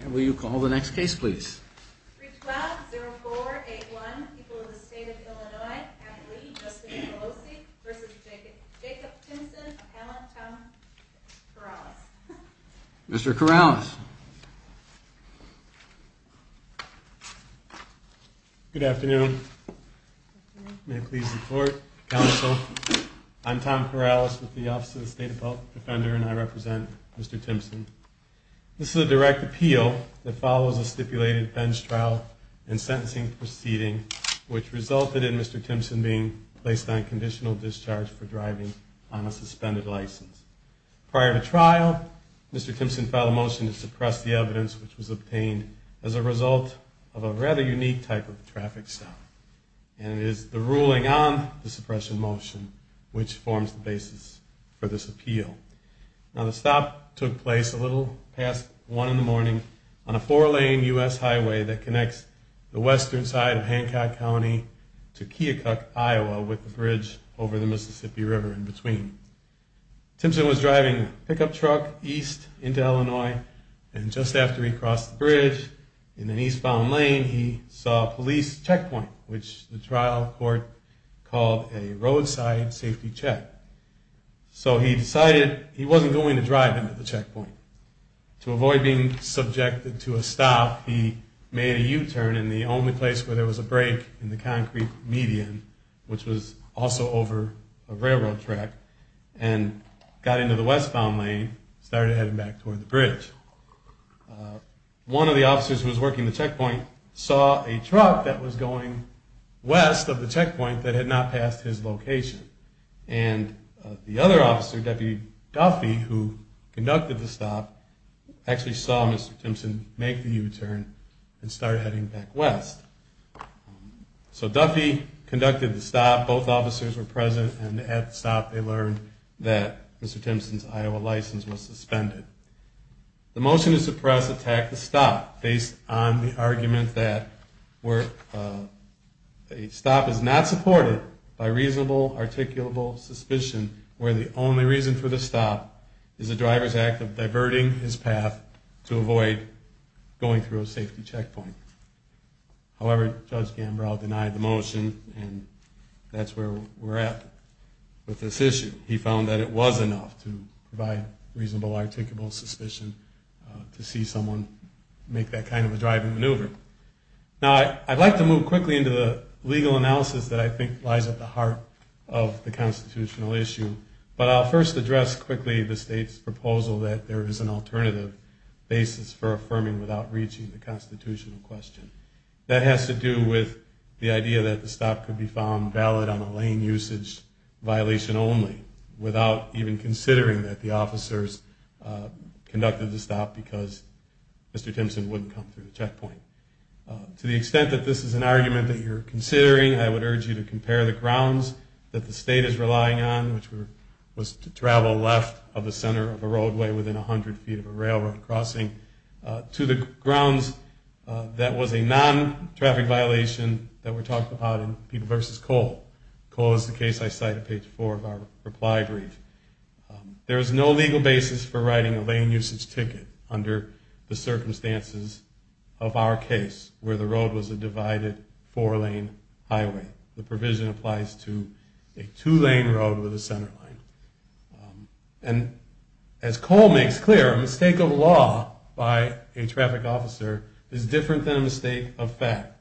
And will you call the next case, please? 312-0481. People of the State of Illinois. Kathleen Justin Pelosi v. Jacob Timmsen. Appellant Tom Corrales. Mr. Corrales. Good afternoon. May I please report, counsel. I'm Tom Corrales with the Office of the State Defender and I represent Mr. Timmsen. This is a direct appeal that follows a stipulated bench trial and sentencing proceeding which resulted in Mr. Timmsen being placed on conditional discharge for driving on a suspended license. Prior to trial, Mr. Timmsen filed a motion to suppress the evidence which was obtained as a result of a rather unique type of traffic stop. And it is the ruling on the suppression motion which forms the basis for this appeal. Now the stop took place a little past one in the morning on a four-lane U.S. highway that connects the western side of Hancock County to Keokuk, Iowa with the bridge over the Mississippi River in between. Timmsen was driving a pickup truck east into Illinois and just after he crossed the bridge in an eastbound lane, he saw a police checkpoint which the trial court called a so he decided he wasn't going to drive into the checkpoint. To avoid being subjected to a stop, he made a U-turn in the only place where there was a break in the concrete median which was also over a railroad track and got into the westbound lane and started heading back toward the bridge. One of the officers who was working the checkpoint saw a truck that was going west of the checkpoint that had not passed his location and the other officer, Deputy Duffy, who conducted the stop actually saw Mr. Timmsen make the U-turn and start heading back west. So Duffy conducted the stop, both officers were present and at the stop they learned that Mr. Timmsen's Iowa license was suspended. The motion to suppress attacked the stop based on the argument that a stop is not supported by reasonable, articulable suspicion where the only reason for the stop is the driver's act of diverting his path to avoid going through a safety checkpoint. However, Judge Gambrow denied the motion and that's where we're at with this issue. He found that it was enough to provide reasonable, articulable suspicion to see someone make that kind of a driving maneuver. Now I'd like to move quickly into the legal analysis that I think lies at the heart of the constitutional issue, but I'll first address quickly the state's proposal that there is an alternative basis for affirming without reaching the constitutional question. That has to do with the idea that the stop could be found valid on a lane usage violation only without even considering that the officers conducted the stop because Mr. Timmsen wouldn't come through the checkpoint. To the extent that this is an argument that you're considering, I would urge you to compare the grounds that the state is relying on, which was to travel left of the center of a roadway within 100 feet of a railroad crossing, to the grounds that was a non-traffic violation that were talked about in People v. Cole. Cole is the case I cite at page 4 of our reply brief. There is no legal basis for writing a lane usage ticket under the circumstances of our case, where the road was a divided four-lane highway. The provision applies to a two-lane road with a centerline. As Cole makes clear, a mistake of law by a traffic officer is different than a mistake of fact.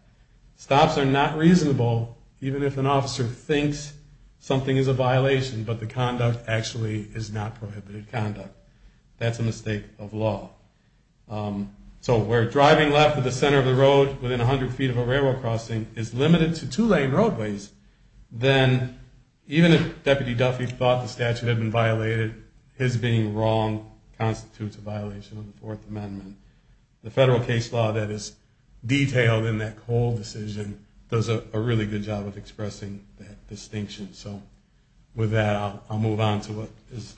Stops are not reasonable, even if an officer thinks something is a violation, but the conduct actually is not prohibited conduct. That's a mistake of law. So where driving left of the center of the road within 100 feet of a railroad crossing is limited to two-lane roadways, then even if Deputy Duffy thought the statute had been violated, his being wrong constitutes a violation of the Fourth Amendment. The federal case law that is detailed in that Cole decision does a really good job of expressing that distinction. With that, I'll move on to what is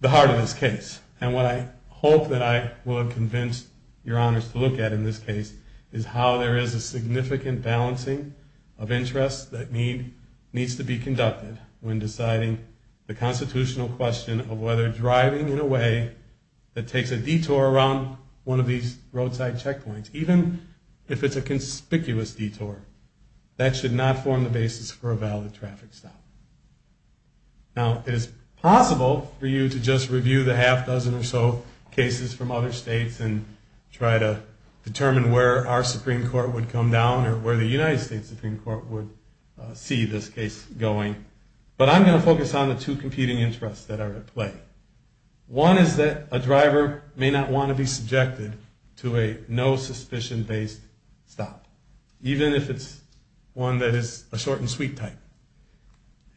the heart of this case, and what I hope that I will have convinced your honors to look at in this case is how there is a significant balancing of interests that needs to be conducted when deciding the constitutional question of whether driving in a way that takes a detour around one of these roadside checkpoints, even if it's a conspicuous detour, that should not form the basis for a valid traffic stop. Now, it is possible for you to just review the half dozen or so cases from other states and try to determine where our Supreme Court would come down or where the United States Supreme Court would see this case going, but I'm going to focus on the two competing interests that are at play. One is that a driver may not want to be subjected to a no-suspicion based stop, even if it's one that is a short and sweet type.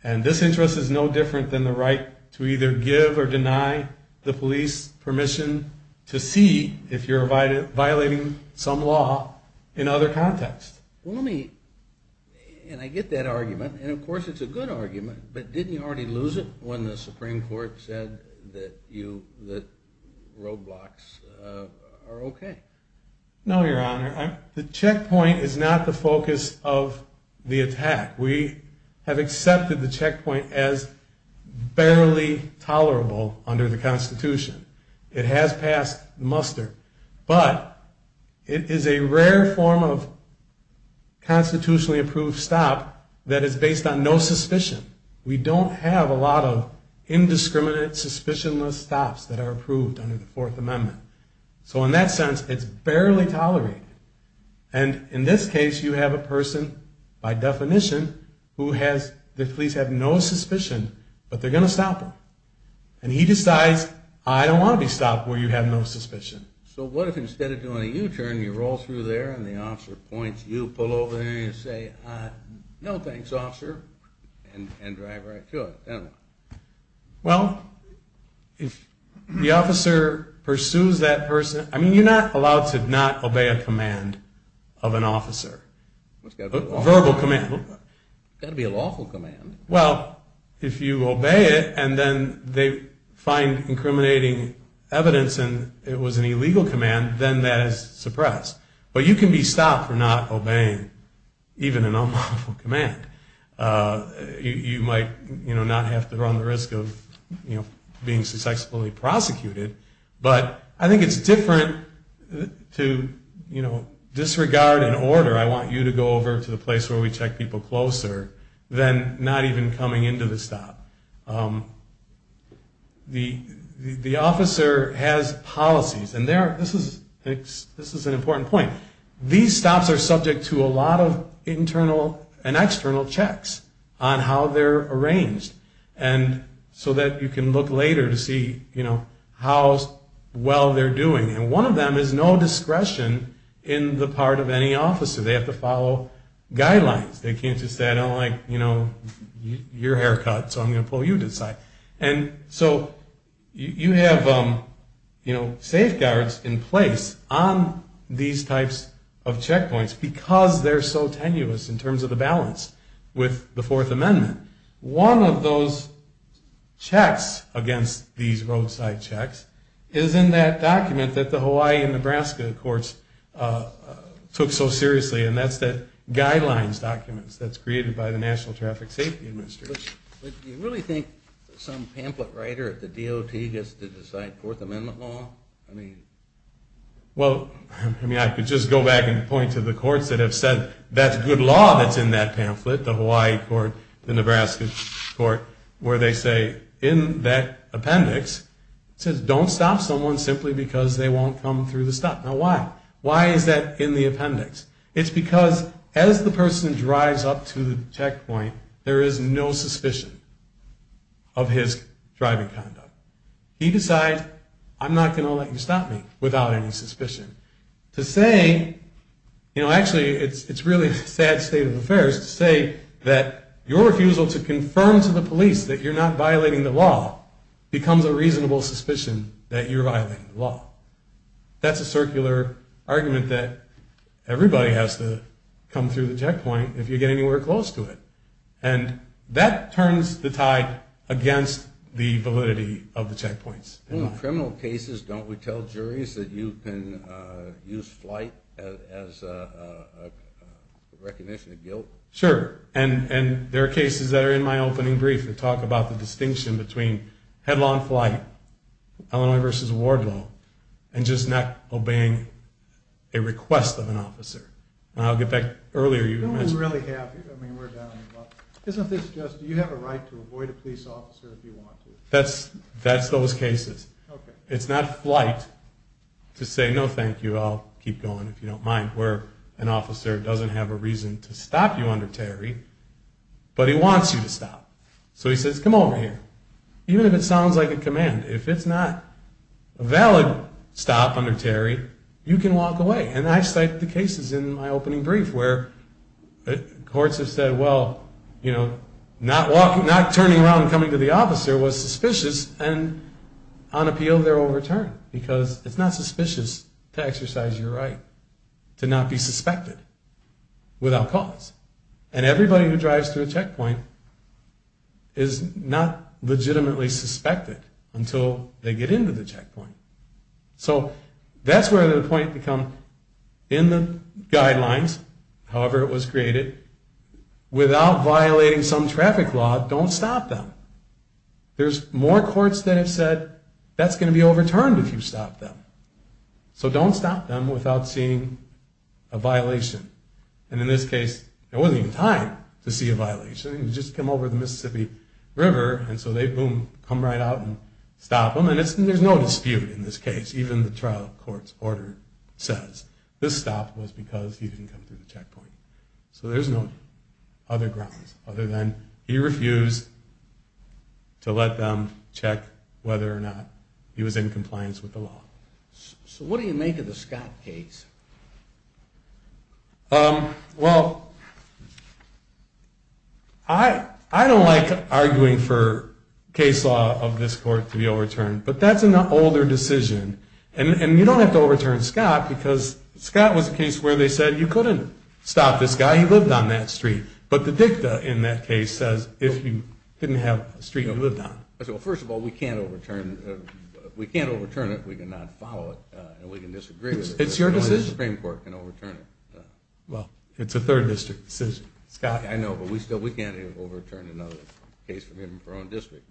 And this interest is no different than the right to either give or deny the police permission to see if you're violating some law in other contexts. And I get that argument, and of course it's a good argument, but didn't you already lose it when the Supreme Court said that roadblocks are okay? No, Your Honor. The checkpoint is not the focus of the attack. We have accepted the checkpoint as barely tolerable under the Constitution. It has passed muster, but it is a rare form of constitutionally approved stop that is based on no suspicion. We don't have a lot of indiscriminate suspicionless stops that are approved under the Fourth Amendment. So in that sense, it's barely tolerated. And in this case, you have a person, by definition, who has, the police have no suspicion, but they're going to stop him. And he decides, I don't want to be stopped where you have no suspicion. So what if instead of doing a U-turn, you roll through there and the officer points you, pull over there and you say, no thanks, officer, and drive right to it? Well, if the officer pursues that person, I mean, are you not allowed to not obey a command of an officer? A verbal command? It's got to be a lawful command. Well, if you obey it, and then they find incriminating evidence and it was an illegal command, then that is suppressed. But you can be stopped for not obeying even an unlawful command. You might not have to run the risk of being successfully prosecuted, but I think it's different to disregard an order, I want you to go over to the place where we check people closer, than not even coming into the stop. The officer has policies, and this is an important point. These stops are subject to a lot of internal and external checks on how they're arranged. And so that you can look later to see how well they're doing. And one of them is no discretion in the part of any officer. They have to follow guidelines. They can't just say, I don't like your haircut, so I'm going to pull you to the side. And so you have safeguards in place on these types of checkpoints because they're so tenuous in terms of the balance with the Fourth Amendment. One of those checks against these roadside checks is in that document that the Hawaii and Nebraska courts took so seriously, and that's the guidelines documents that's created by the National Traffic Safety Administration. Do you really think some pamphlet writer at the DOT gets to decide Fourth Amendment law? Well, I could just go back and point to the courts that have said, that's good law that's in that pamphlet, the Hawaii court, the Nebraska court, where they say in that appendix, it says don't stop someone simply because they won't come through the stop. Now why? Why is that in the appendix? It's because as the person drives up to the checkpoint, there is no suspicion of his driving conduct. He decides I'm not going to let you stop me without any suspicion. To say, you know, actually it's really a sad state of affairs to say that your refusal to confirm to the police that you're not violating the law becomes a reasonable suspicion that you're violating the law. That's a circular argument that everybody has to come through the checkpoint if you get anywhere close to it. And that turns the tide against the validity of the checkpoints. In criminal cases, don't we tell juries that you can use flight as a recognition of guilt? Sure. And there are cases that are in my opening brief that talk about the distinction between headlong flight, Illinois v. Wardlow, and just not obeying a request of an officer. And I'll get back to that earlier. No, we really have. I mean, we're done. Isn't this just, do you have a right to avoid a police officer if you want to? That's those cases. It's not flight to say, no thank you, I'll keep going if you don't mind, where an officer doesn't have a reason to stop you under Terry, but he wants you to stop. So he says, come over here. Even if it sounds like a command, if it's not a valid stop under Terry, you can walk away. And I cite the cases in my opening brief where courts have said, well, you know, not turning around and coming to the officer was suspicious and on appeal they're overturned because it's not suspicious to exercise your right to not be suspected without cause. And everybody who drives to a checkpoint is not legitimately suspected until they get into the checkpoint. So that's where the point becomes, in the guidelines, however it was created, without violating some traffic law, don't stop them. There's more courts that have said, that's going to be overturned if you stop them. So don't stop them without seeing a violation. And in this case, there wasn't even time to see a violation. He just came over the Mississippi River, and so they, boom, come right out and stop him. And there's no dispute in this case. Even the trial court's order says this stop was because he didn't come through the checkpoint. So there's no other grounds other than he refused to let them check whether or not he was in compliance with the law. So what do you make of the Scott case? Um, well, I don't like arguing for case law of this court to be overturned, but that's an older decision. And you don't have to overturn Scott because Scott was a case where they said you couldn't stop this guy, he lived on that street. But the dicta in that case says if you didn't have a street you lived on. Well, first of all, we can't overturn it if we cannot follow it and we can disagree with it. It's your decision. Well, it's a third district decision. I know, but we can't overturn another case from your own district.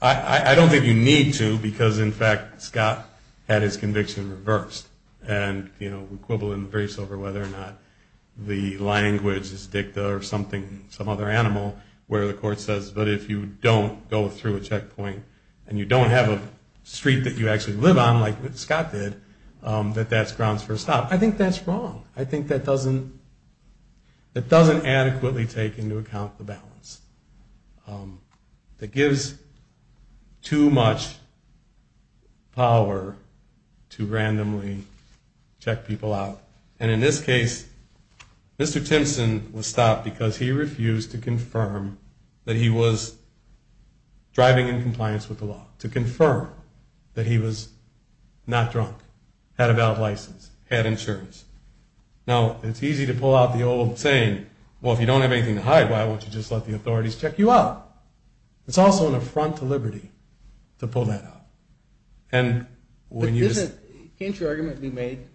I don't think you need to because, in fact, Scott had his conviction reversed. And, you know, we quibble and race over whether or not the language is dicta or something, some other animal, where the court says, but if you don't go through a checkpoint and you don't have a street that you actually live on, like Scott did, that that's grounds for a stop. I think that's wrong. I think that doesn't adequately take into account the balance. That gives too much power to randomly check people out. And, in this case, Mr. Timpson was stopped because he refused to confirm that he was driving in compliance with the law, to confirm that he was not drunk, had a valid license, had insurance. Now, it's easy to pull out the old saying, well, if you don't have anything to hide, why won't you just let the authorities check you out? It's also an affront to liberty to pull that out. But can't your argument be made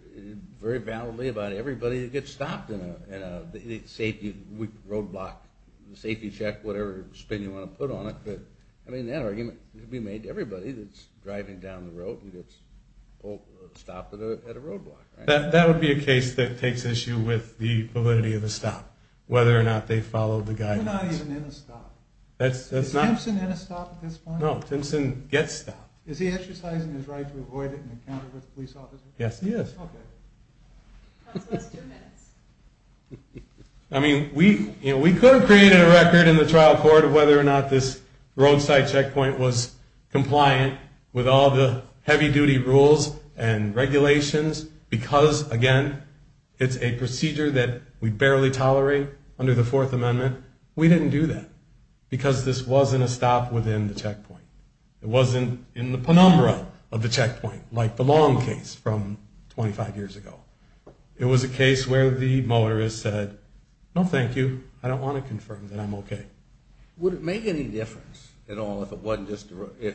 very validly about everybody that gets stopped in a roadblock, safety check, whatever spin you want to put on it? I mean, that argument could be made to everybody that's driving down the road and gets stopped at a roadblock. That would be a case that takes issue with the validity of the stop, whether or not they follow the guidelines. You're not even in a stop. Is Timpson in a stop at this point? No, Timpson gets stopped. Is he exercising his right to avoid it in encounter with a police officer? Yes, he is. Okay. I mean, we could have created a record in the trial court of whether or not this roadside checkpoint was compliant with all the heavy-duty rules and regulations because, again, it's a procedure that we barely tolerate under the Fourth Amendment. We didn't do that because this wasn't a stop within the checkpoint. It wasn't in the penumbra of the checkpoint like the Long case from 25 years ago. It was a case where the motorist said, No, thank you. I don't want to confirm that I'm okay. Would it make any difference at all if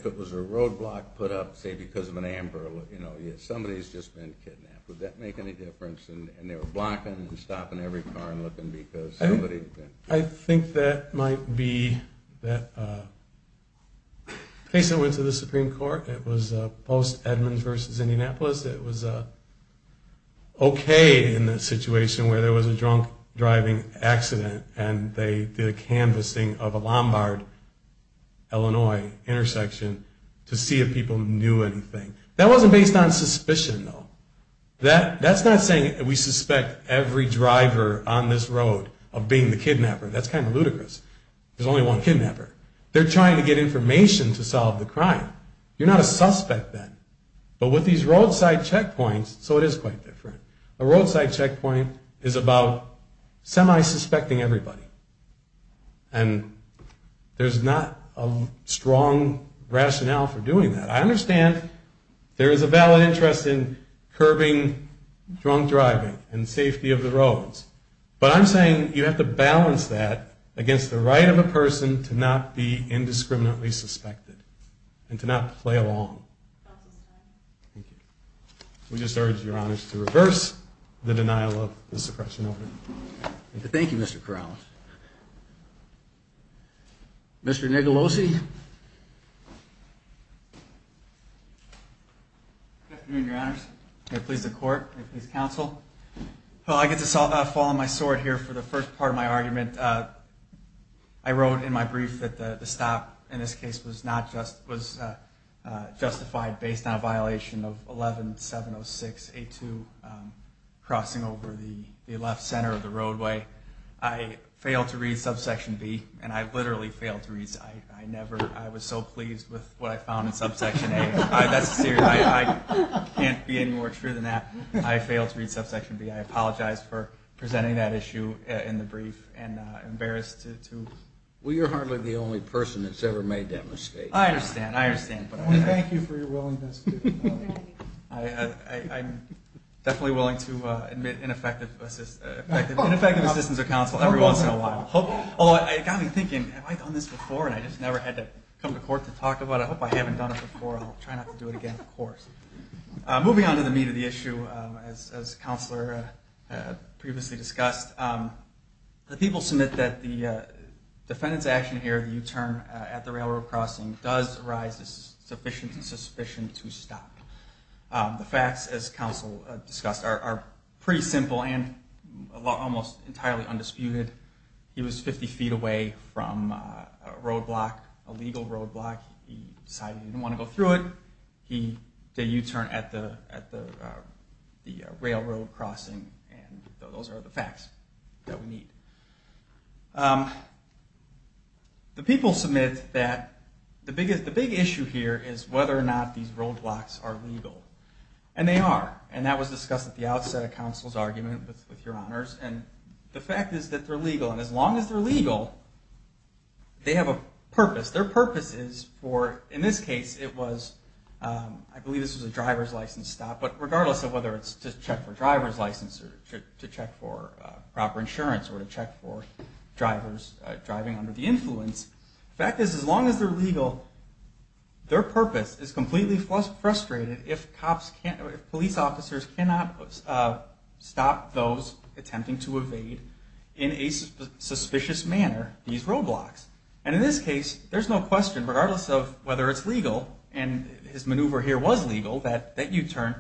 it was a roadblock put up, say, because of an ambulance? Somebody's just been kidnapped. Would that make any difference? And they were blocking and stopping every car and looking because somebody I think that might be that case that went to the Supreme Court. It was Post Edmonds versus Indianapolis. It was okay in the situation where there was a drunk-driving accident and they did a canvassing of a Lombard Illinois intersection to see if people knew anything. That wasn't based on suspicion, though. That's not saying we suspect every driver on this road of being the kidnapper. That's kind of ludicrous. There's only one kidnapper. They're trying to get information to solve the crime. You're not a suspect then. But with these roadside checkpoints, so it is quite different. A roadside checkpoint is about semi-suspecting everybody. And there's not a strong rationale for doing that. I understand there is a valid interest in curbing drunk-driving and safety of the roads. But I'm saying you have to balance that against the right of a person to not be indiscriminately suspected and to not play along. We just urge Your Honors to reverse the denial of the suppression order. Thank you, Mr. Corrales. Mr. Nicalosi? Good afternoon, Your Honors. May it please the Court. May it please the Council. I get to fall on my sword here for the first part of my argument. I wrote in my brief that the stop in this case was justified based on a violation of 11-706-82 crossing over the left center of the roadway. I failed to read subsection B, and I literally failed to read it. I was so pleased with what I found in subsection A. That's serious. I can't be any more true than that. I failed to read subsection B. I apologize for presenting that issue in the brief and embarrassed to Well, you're hardly the only person that's ever made that mistake. I understand. I understand. Thank you for your willingness to do that. I'm definitely willing to admit ineffective assistance of counsel every once in a while. Although it got me thinking, have I done this before? And I just never had to come to court to talk about it. I hope I haven't done it before. I'll try not to do it again, of course. Moving on to the meat of the issue, as Counselor previously discussed, the people submit that the defendant's action here at the U-turn at the railroad crossing does arise as sufficient and sufficient to stop. The facts, as Counselor discussed, are pretty simple and almost entirely undisputed. He was 50 feet away from a roadblock, a legal roadblock. He decided he didn't want to go through it. He did a U-turn at the railroad crossing. Those are the facts that we need. The people submit that the big issue here is whether or not these roadblocks are legal. And they are. And that was discussed at the outset of Counselor's argument, with your honors. The fact is that they're legal. And as long as they're legal, they have a purpose. Their purpose is for, in this case, it was, I believe this was a driver's license stop, but regardless of whether it's to check for a driver's license or to check for proper insurance or to check for drivers driving under the influence, the fact is, as long as they're legal, their purpose is completely frustrated if police officers cannot stop those attempting to evade, in a suspicious manner, these roadblocks. And in this case, there's no question, regardless of whether it's legal, and his maneuver here was legal, that U-turn,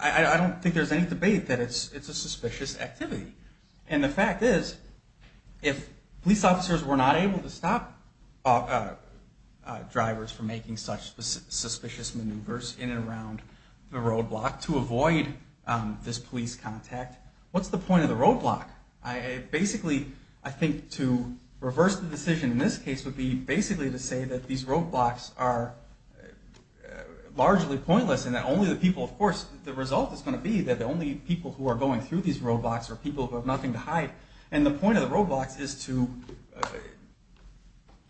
I don't think there's any debate that it's a suspicious activity. And the fact is, if police officers were not able to stop drivers from making such suspicious maneuvers in and around the roadblock to avoid this police contact, what's the point of the roadblock? Basically, I think to reverse the decision in this case would be basically to say that these roadblocks are largely pointless and that only the people, of course, the result is going to be that the only people who are going through these roadblocks are people who have nothing to hide. And the point of the roadblocks is to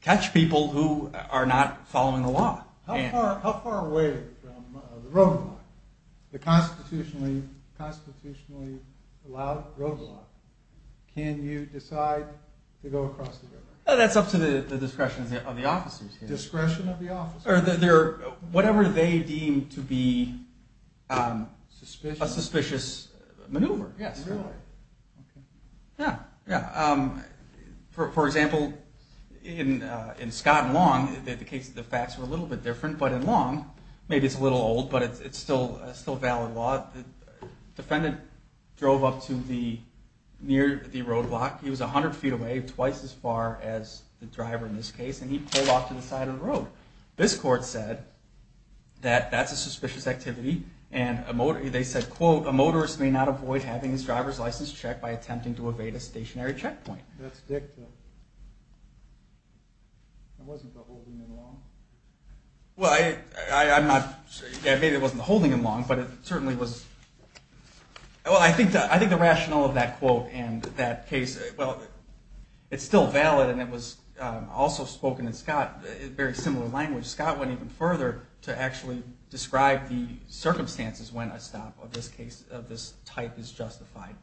catch people who are not following the law. How far away from the roadblock, the constitutionally allowed roadblock, can you decide to go across the river? That's up to the discretion of the officers here. Discretion of the officers? Whatever they deem to be a suspicious maneuver, yes. Really? For example, in Scott and Long, the facts were a little bit different, but in Long, maybe it's a little old, but it's still valid law. The defendant drove up to the near the roadblock. He was 100 feet away, twice as far as the driver in this case, and he pulled off to the side of the road. This court said that that's a suspicious activity, and they said, quote, a motorist may not avoid having his driver's license checked by attempting to evade a stationary checkpoint. That's dicta. That wasn't the holding in Long. Maybe it wasn't the holding in Long, but it certainly was. Well, I think the rationale of that quote and that case, well, it's still valid, and it was also spoken in Scott, a very similar language. Scott went even further to actually describe the circumstances when a stop of this type is justified.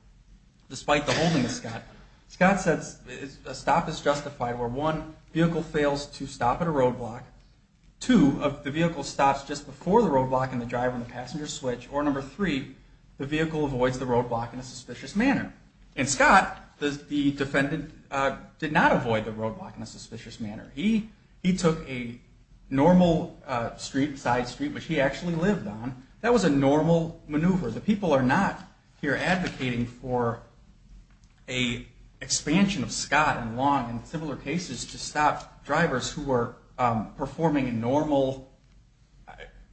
Despite the holding of Scott, Scott says a stop is justified where one, vehicle fails to stop at a roadblock, two, the vehicle stops just before the roadblock and the driver and the passenger switch, or number three, the vehicle avoids the roadblock in a suspicious manner. And Scott, the defendant, did not avoid the roadblock in a suspicious manner. He took a normal side street, which he actually lived on. That was a normal maneuver. The people are not here advocating for an expansion of Scott and Long and similar cases to stop drivers who were performing a normal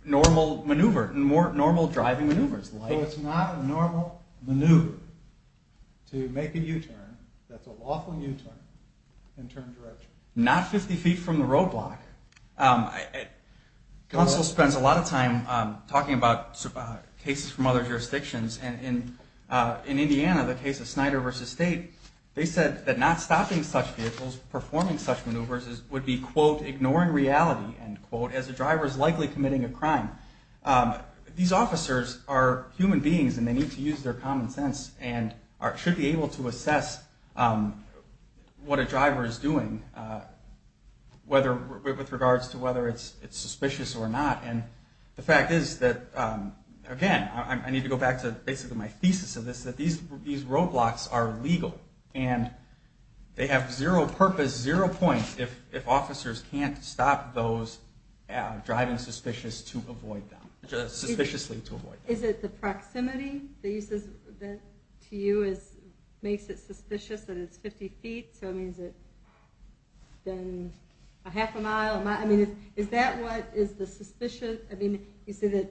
maneuver, normal driving maneuvers. So it's not a normal maneuver to make a U-turn, that's a lawful U-turn, and turn direction. Not 50 feet from the roadblock. Counsel spends a lot of time talking about cases from other jurisdictions. In Indiana, the case of Snyder v. State, they said that not stopping such vehicles, performing such maneuvers would be, quote, ignoring reality, end quote, as the driver is likely committing a crime. These officers are human beings and they need to use their common sense and should be able to assess what a driver is doing with regards to whether it's legal or not. Again, I need to go back to basically my thesis of this, that these roadblocks are legal and they have zero purpose, zero point, if officers can't stop those driving suspiciously to avoid them. Is it the proximity to you that makes it suspicious that it's 50 feet? So is it that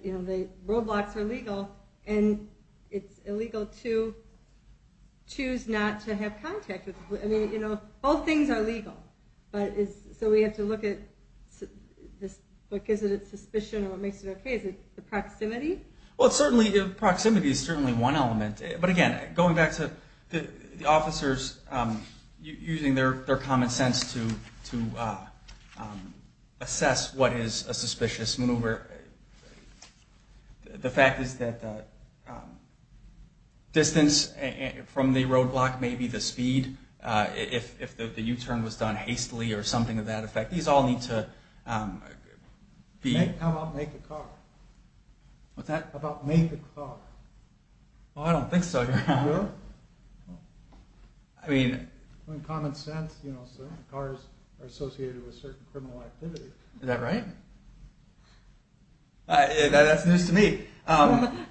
the roadblocks are legal and it's illegal to choose not to have contact? Both things are legal. So we have to look at what gives it its suspicion or what makes it okay. Is it the proximity? Well, certainly, proximity is certainly one element. But again, going back to the officers using their common sense to assess what is a suspicious maneuver, the fact is that distance from the roadblock may be the speed. If the U-turn was done hastily or something of that effect, these all need to be... How about make a car? What's that? Well, I don't think so. You do? In common sense, cars are associated with certain activity. Is that right? That's news to me. But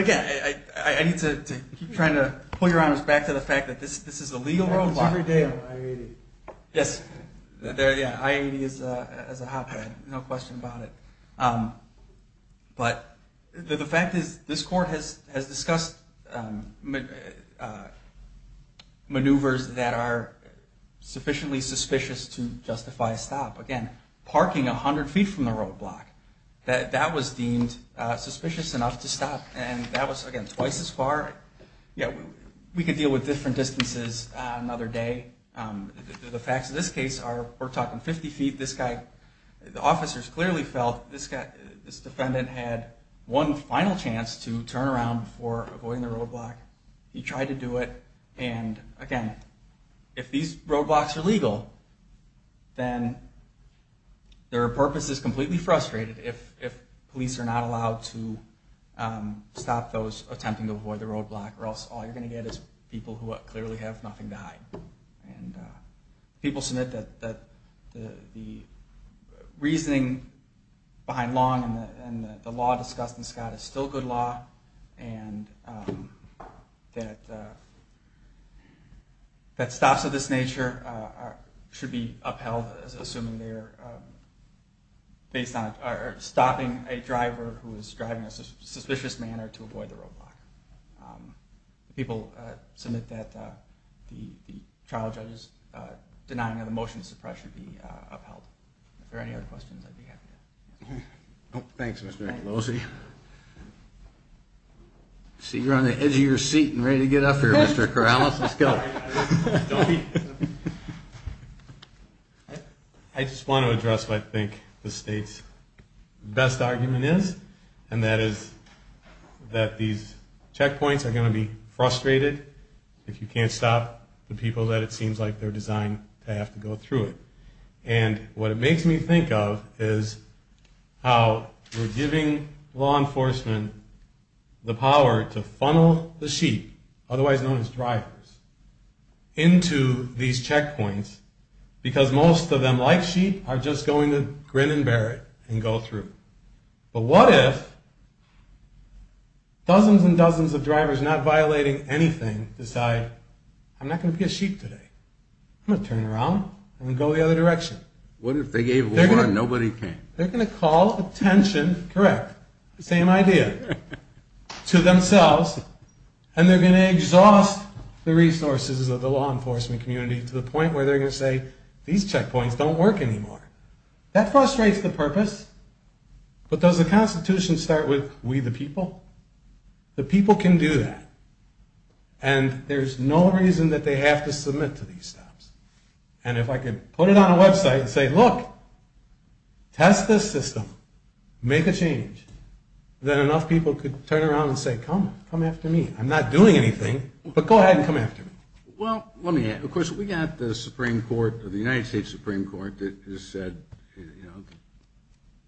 again, I need to keep trying to pull your honors back to the fact that this is a legal roadblock. It happens every day on I-80. Yes. I-80 is a hotbed. No question about it. But the fact is this court has discussed maneuvers that are sufficiently suspicious to justify a stop. Again, parking 100 feet from the roadblock, that was deemed suspicious enough to stop. And that was, again, twice as far. We could deal with different distances another day. The facts of this case are we're talking 50 feet. The officers clearly felt this defendant had one final chance to turn around before avoiding the roadblock. He tried to do it. And again, if these roadblocks are legal, then their purpose is completely frustrated if police are not allowed to stop those attempting to avoid the roadblock or else all you're going to get is people who clearly have nothing to hide. People submit that the reasoning behind Long and the law discussed in Scott is still good law and that stops of this nature should be upheld assuming they're stopping a driver who is driving in a suspicious manner to avoid the roadblock. People submit that the trial judge's denying of the motion to suppress should be upheld. If there are any other questions, I'd be happy to answer. Thanks, Mr. Pelosi. I see you're on the edge of your seat and ready to get up here, Mr. Corrales. Let's go. I just want to address what I think the state's best argument is and that is that these checkpoints are going to be frustrated if you can't stop the people that it seems like they're designed to have to go through it. And what it makes me think of is how we're giving law enforcement the power to funnel the sheep, otherwise known as drivers, into these checkpoints because most of them, like sheep, are just going to grin and bear it and go through. But what if dozens and dozens of drivers not violating anything decide I'm not going to be a sheep today. I'm going to turn around and go the other direction. What if they gave over and nobody came? They're going to call attention same idea to themselves and they're going to exhaust the resources of the law enforcement community to the point where they're going to say these checkpoints don't work anymore. That frustrates the purpose but does the Constitution start with we the people? The people can do that and there's no reason that they have to submit to these stops. And if I could put it on a website and say look, test this system, make a change, then enough people could turn around and say come after me. I'm not doing anything but go ahead and come after me. Well, let me add, of course we got the Supreme Court, the United States Supreme Court that has said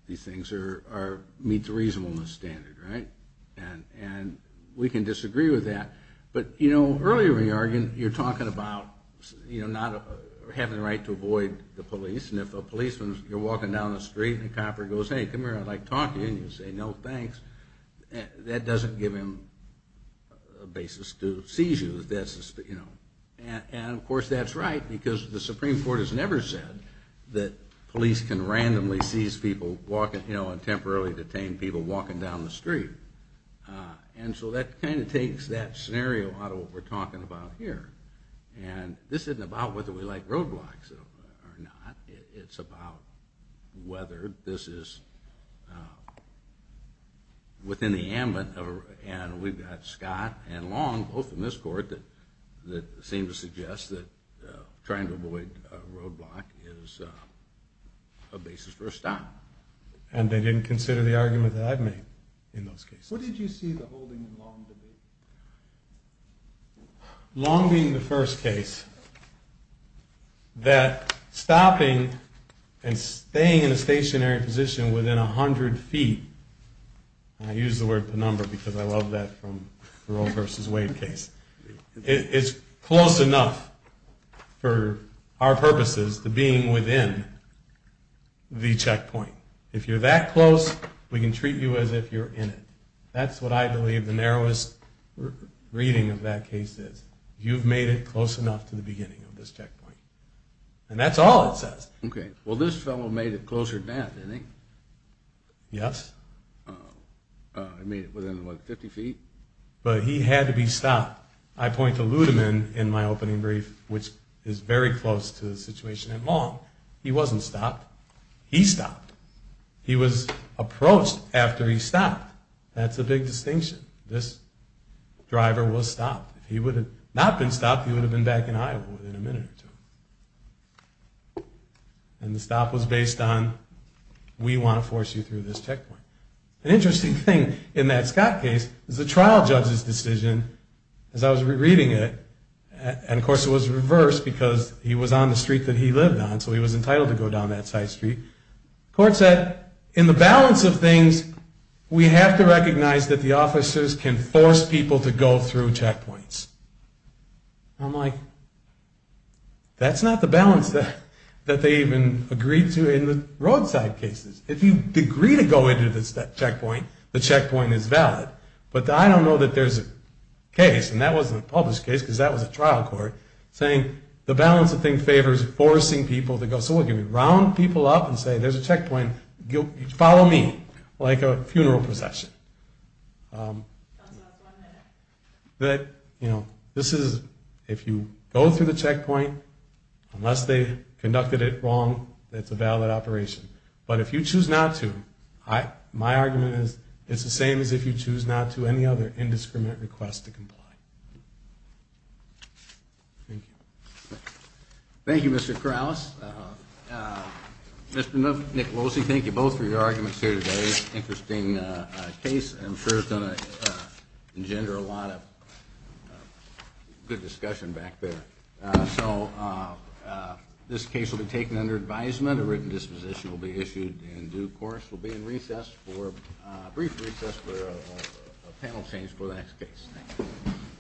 these things meet the reasonableness standard, right? And we can disagree with that but earlier in your argument you're talking about having the right to avoid the police and if a policeman is walking down the street and the cop goes, hey, come here I'd like to talk to you and you say no, thanks, that doesn't give him a basis to seize you. And of course that's right because the Supreme Court has never said that police can randomly seize people and temporarily detain people walking down the street. And so that kind of takes that scenario out of what we're talking about here. And this isn't about whether we like roadblocks or not, it's about whether this is within the ambit and we've got Scott and Long, both in this court, that seem to suggest that trying to avoid a roadblock is a basis for a stop. And they didn't consider the argument that I've made in those cases. What did you see the holding in Long? Long being the first case, that stopping and staying in a stationary position within 100 feet, and I use the word penumbra because I love that from the Roe versus Wade case, it's close enough for our purposes to being within the checkpoint. If you're that close, we can treat you as if you're in it. That's what I believe the narrowest reading of that case is. You've made it close enough to the beginning of this checkpoint. And that's all it says. Okay. Well, this fellow made it closer than that, didn't he? Yes. He made it within, what, 50 feet? But he had to be stopped. I point to Ludeman in my opening brief, which is very close to the situation in Long. He wasn't stopped. He stopped. He was stopped. That's a big distinction. This driver was stopped. If he would have not been stopped, he would have been back in Iowa within a minute or two. And the stop was based on we want to force you through this checkpoint. An interesting thing in that Scott case is the trial judge's decision, as I was reading it, and of course it was reversed because he was on the street that he lived on, so he was entitled to go down that side street. The court said, in the trial, we recognize that the officers can force people to go through checkpoints. I'm like, that's not the balance that they even agreed to in the roadside cases. If you agree to go into this checkpoint, the checkpoint is valid. But I don't know that there's a case, and that wasn't a published case because that was a trial court, saying the balance of things favors forcing people to go. So what, can we round people up and say there's a checkpoint, follow me like a funeral procession? That, you know, this is, if you go through the checkpoint, unless they conducted it wrong, it's a valid operation. But if you choose not to, my argument is it's the same as if you choose not to any other indiscriminate request to comply. Thank you. Thank you, Mr. Krause. Mr. Nicolosi, thank you both for your arguments here today. Interesting case. I'm sure it's going to engender a lot of good discussion back there. So, this case will be taken under advisement. A written disposition will be issued in due course. We'll be in recess for, a brief recess for a panel change for the next case. Thank you.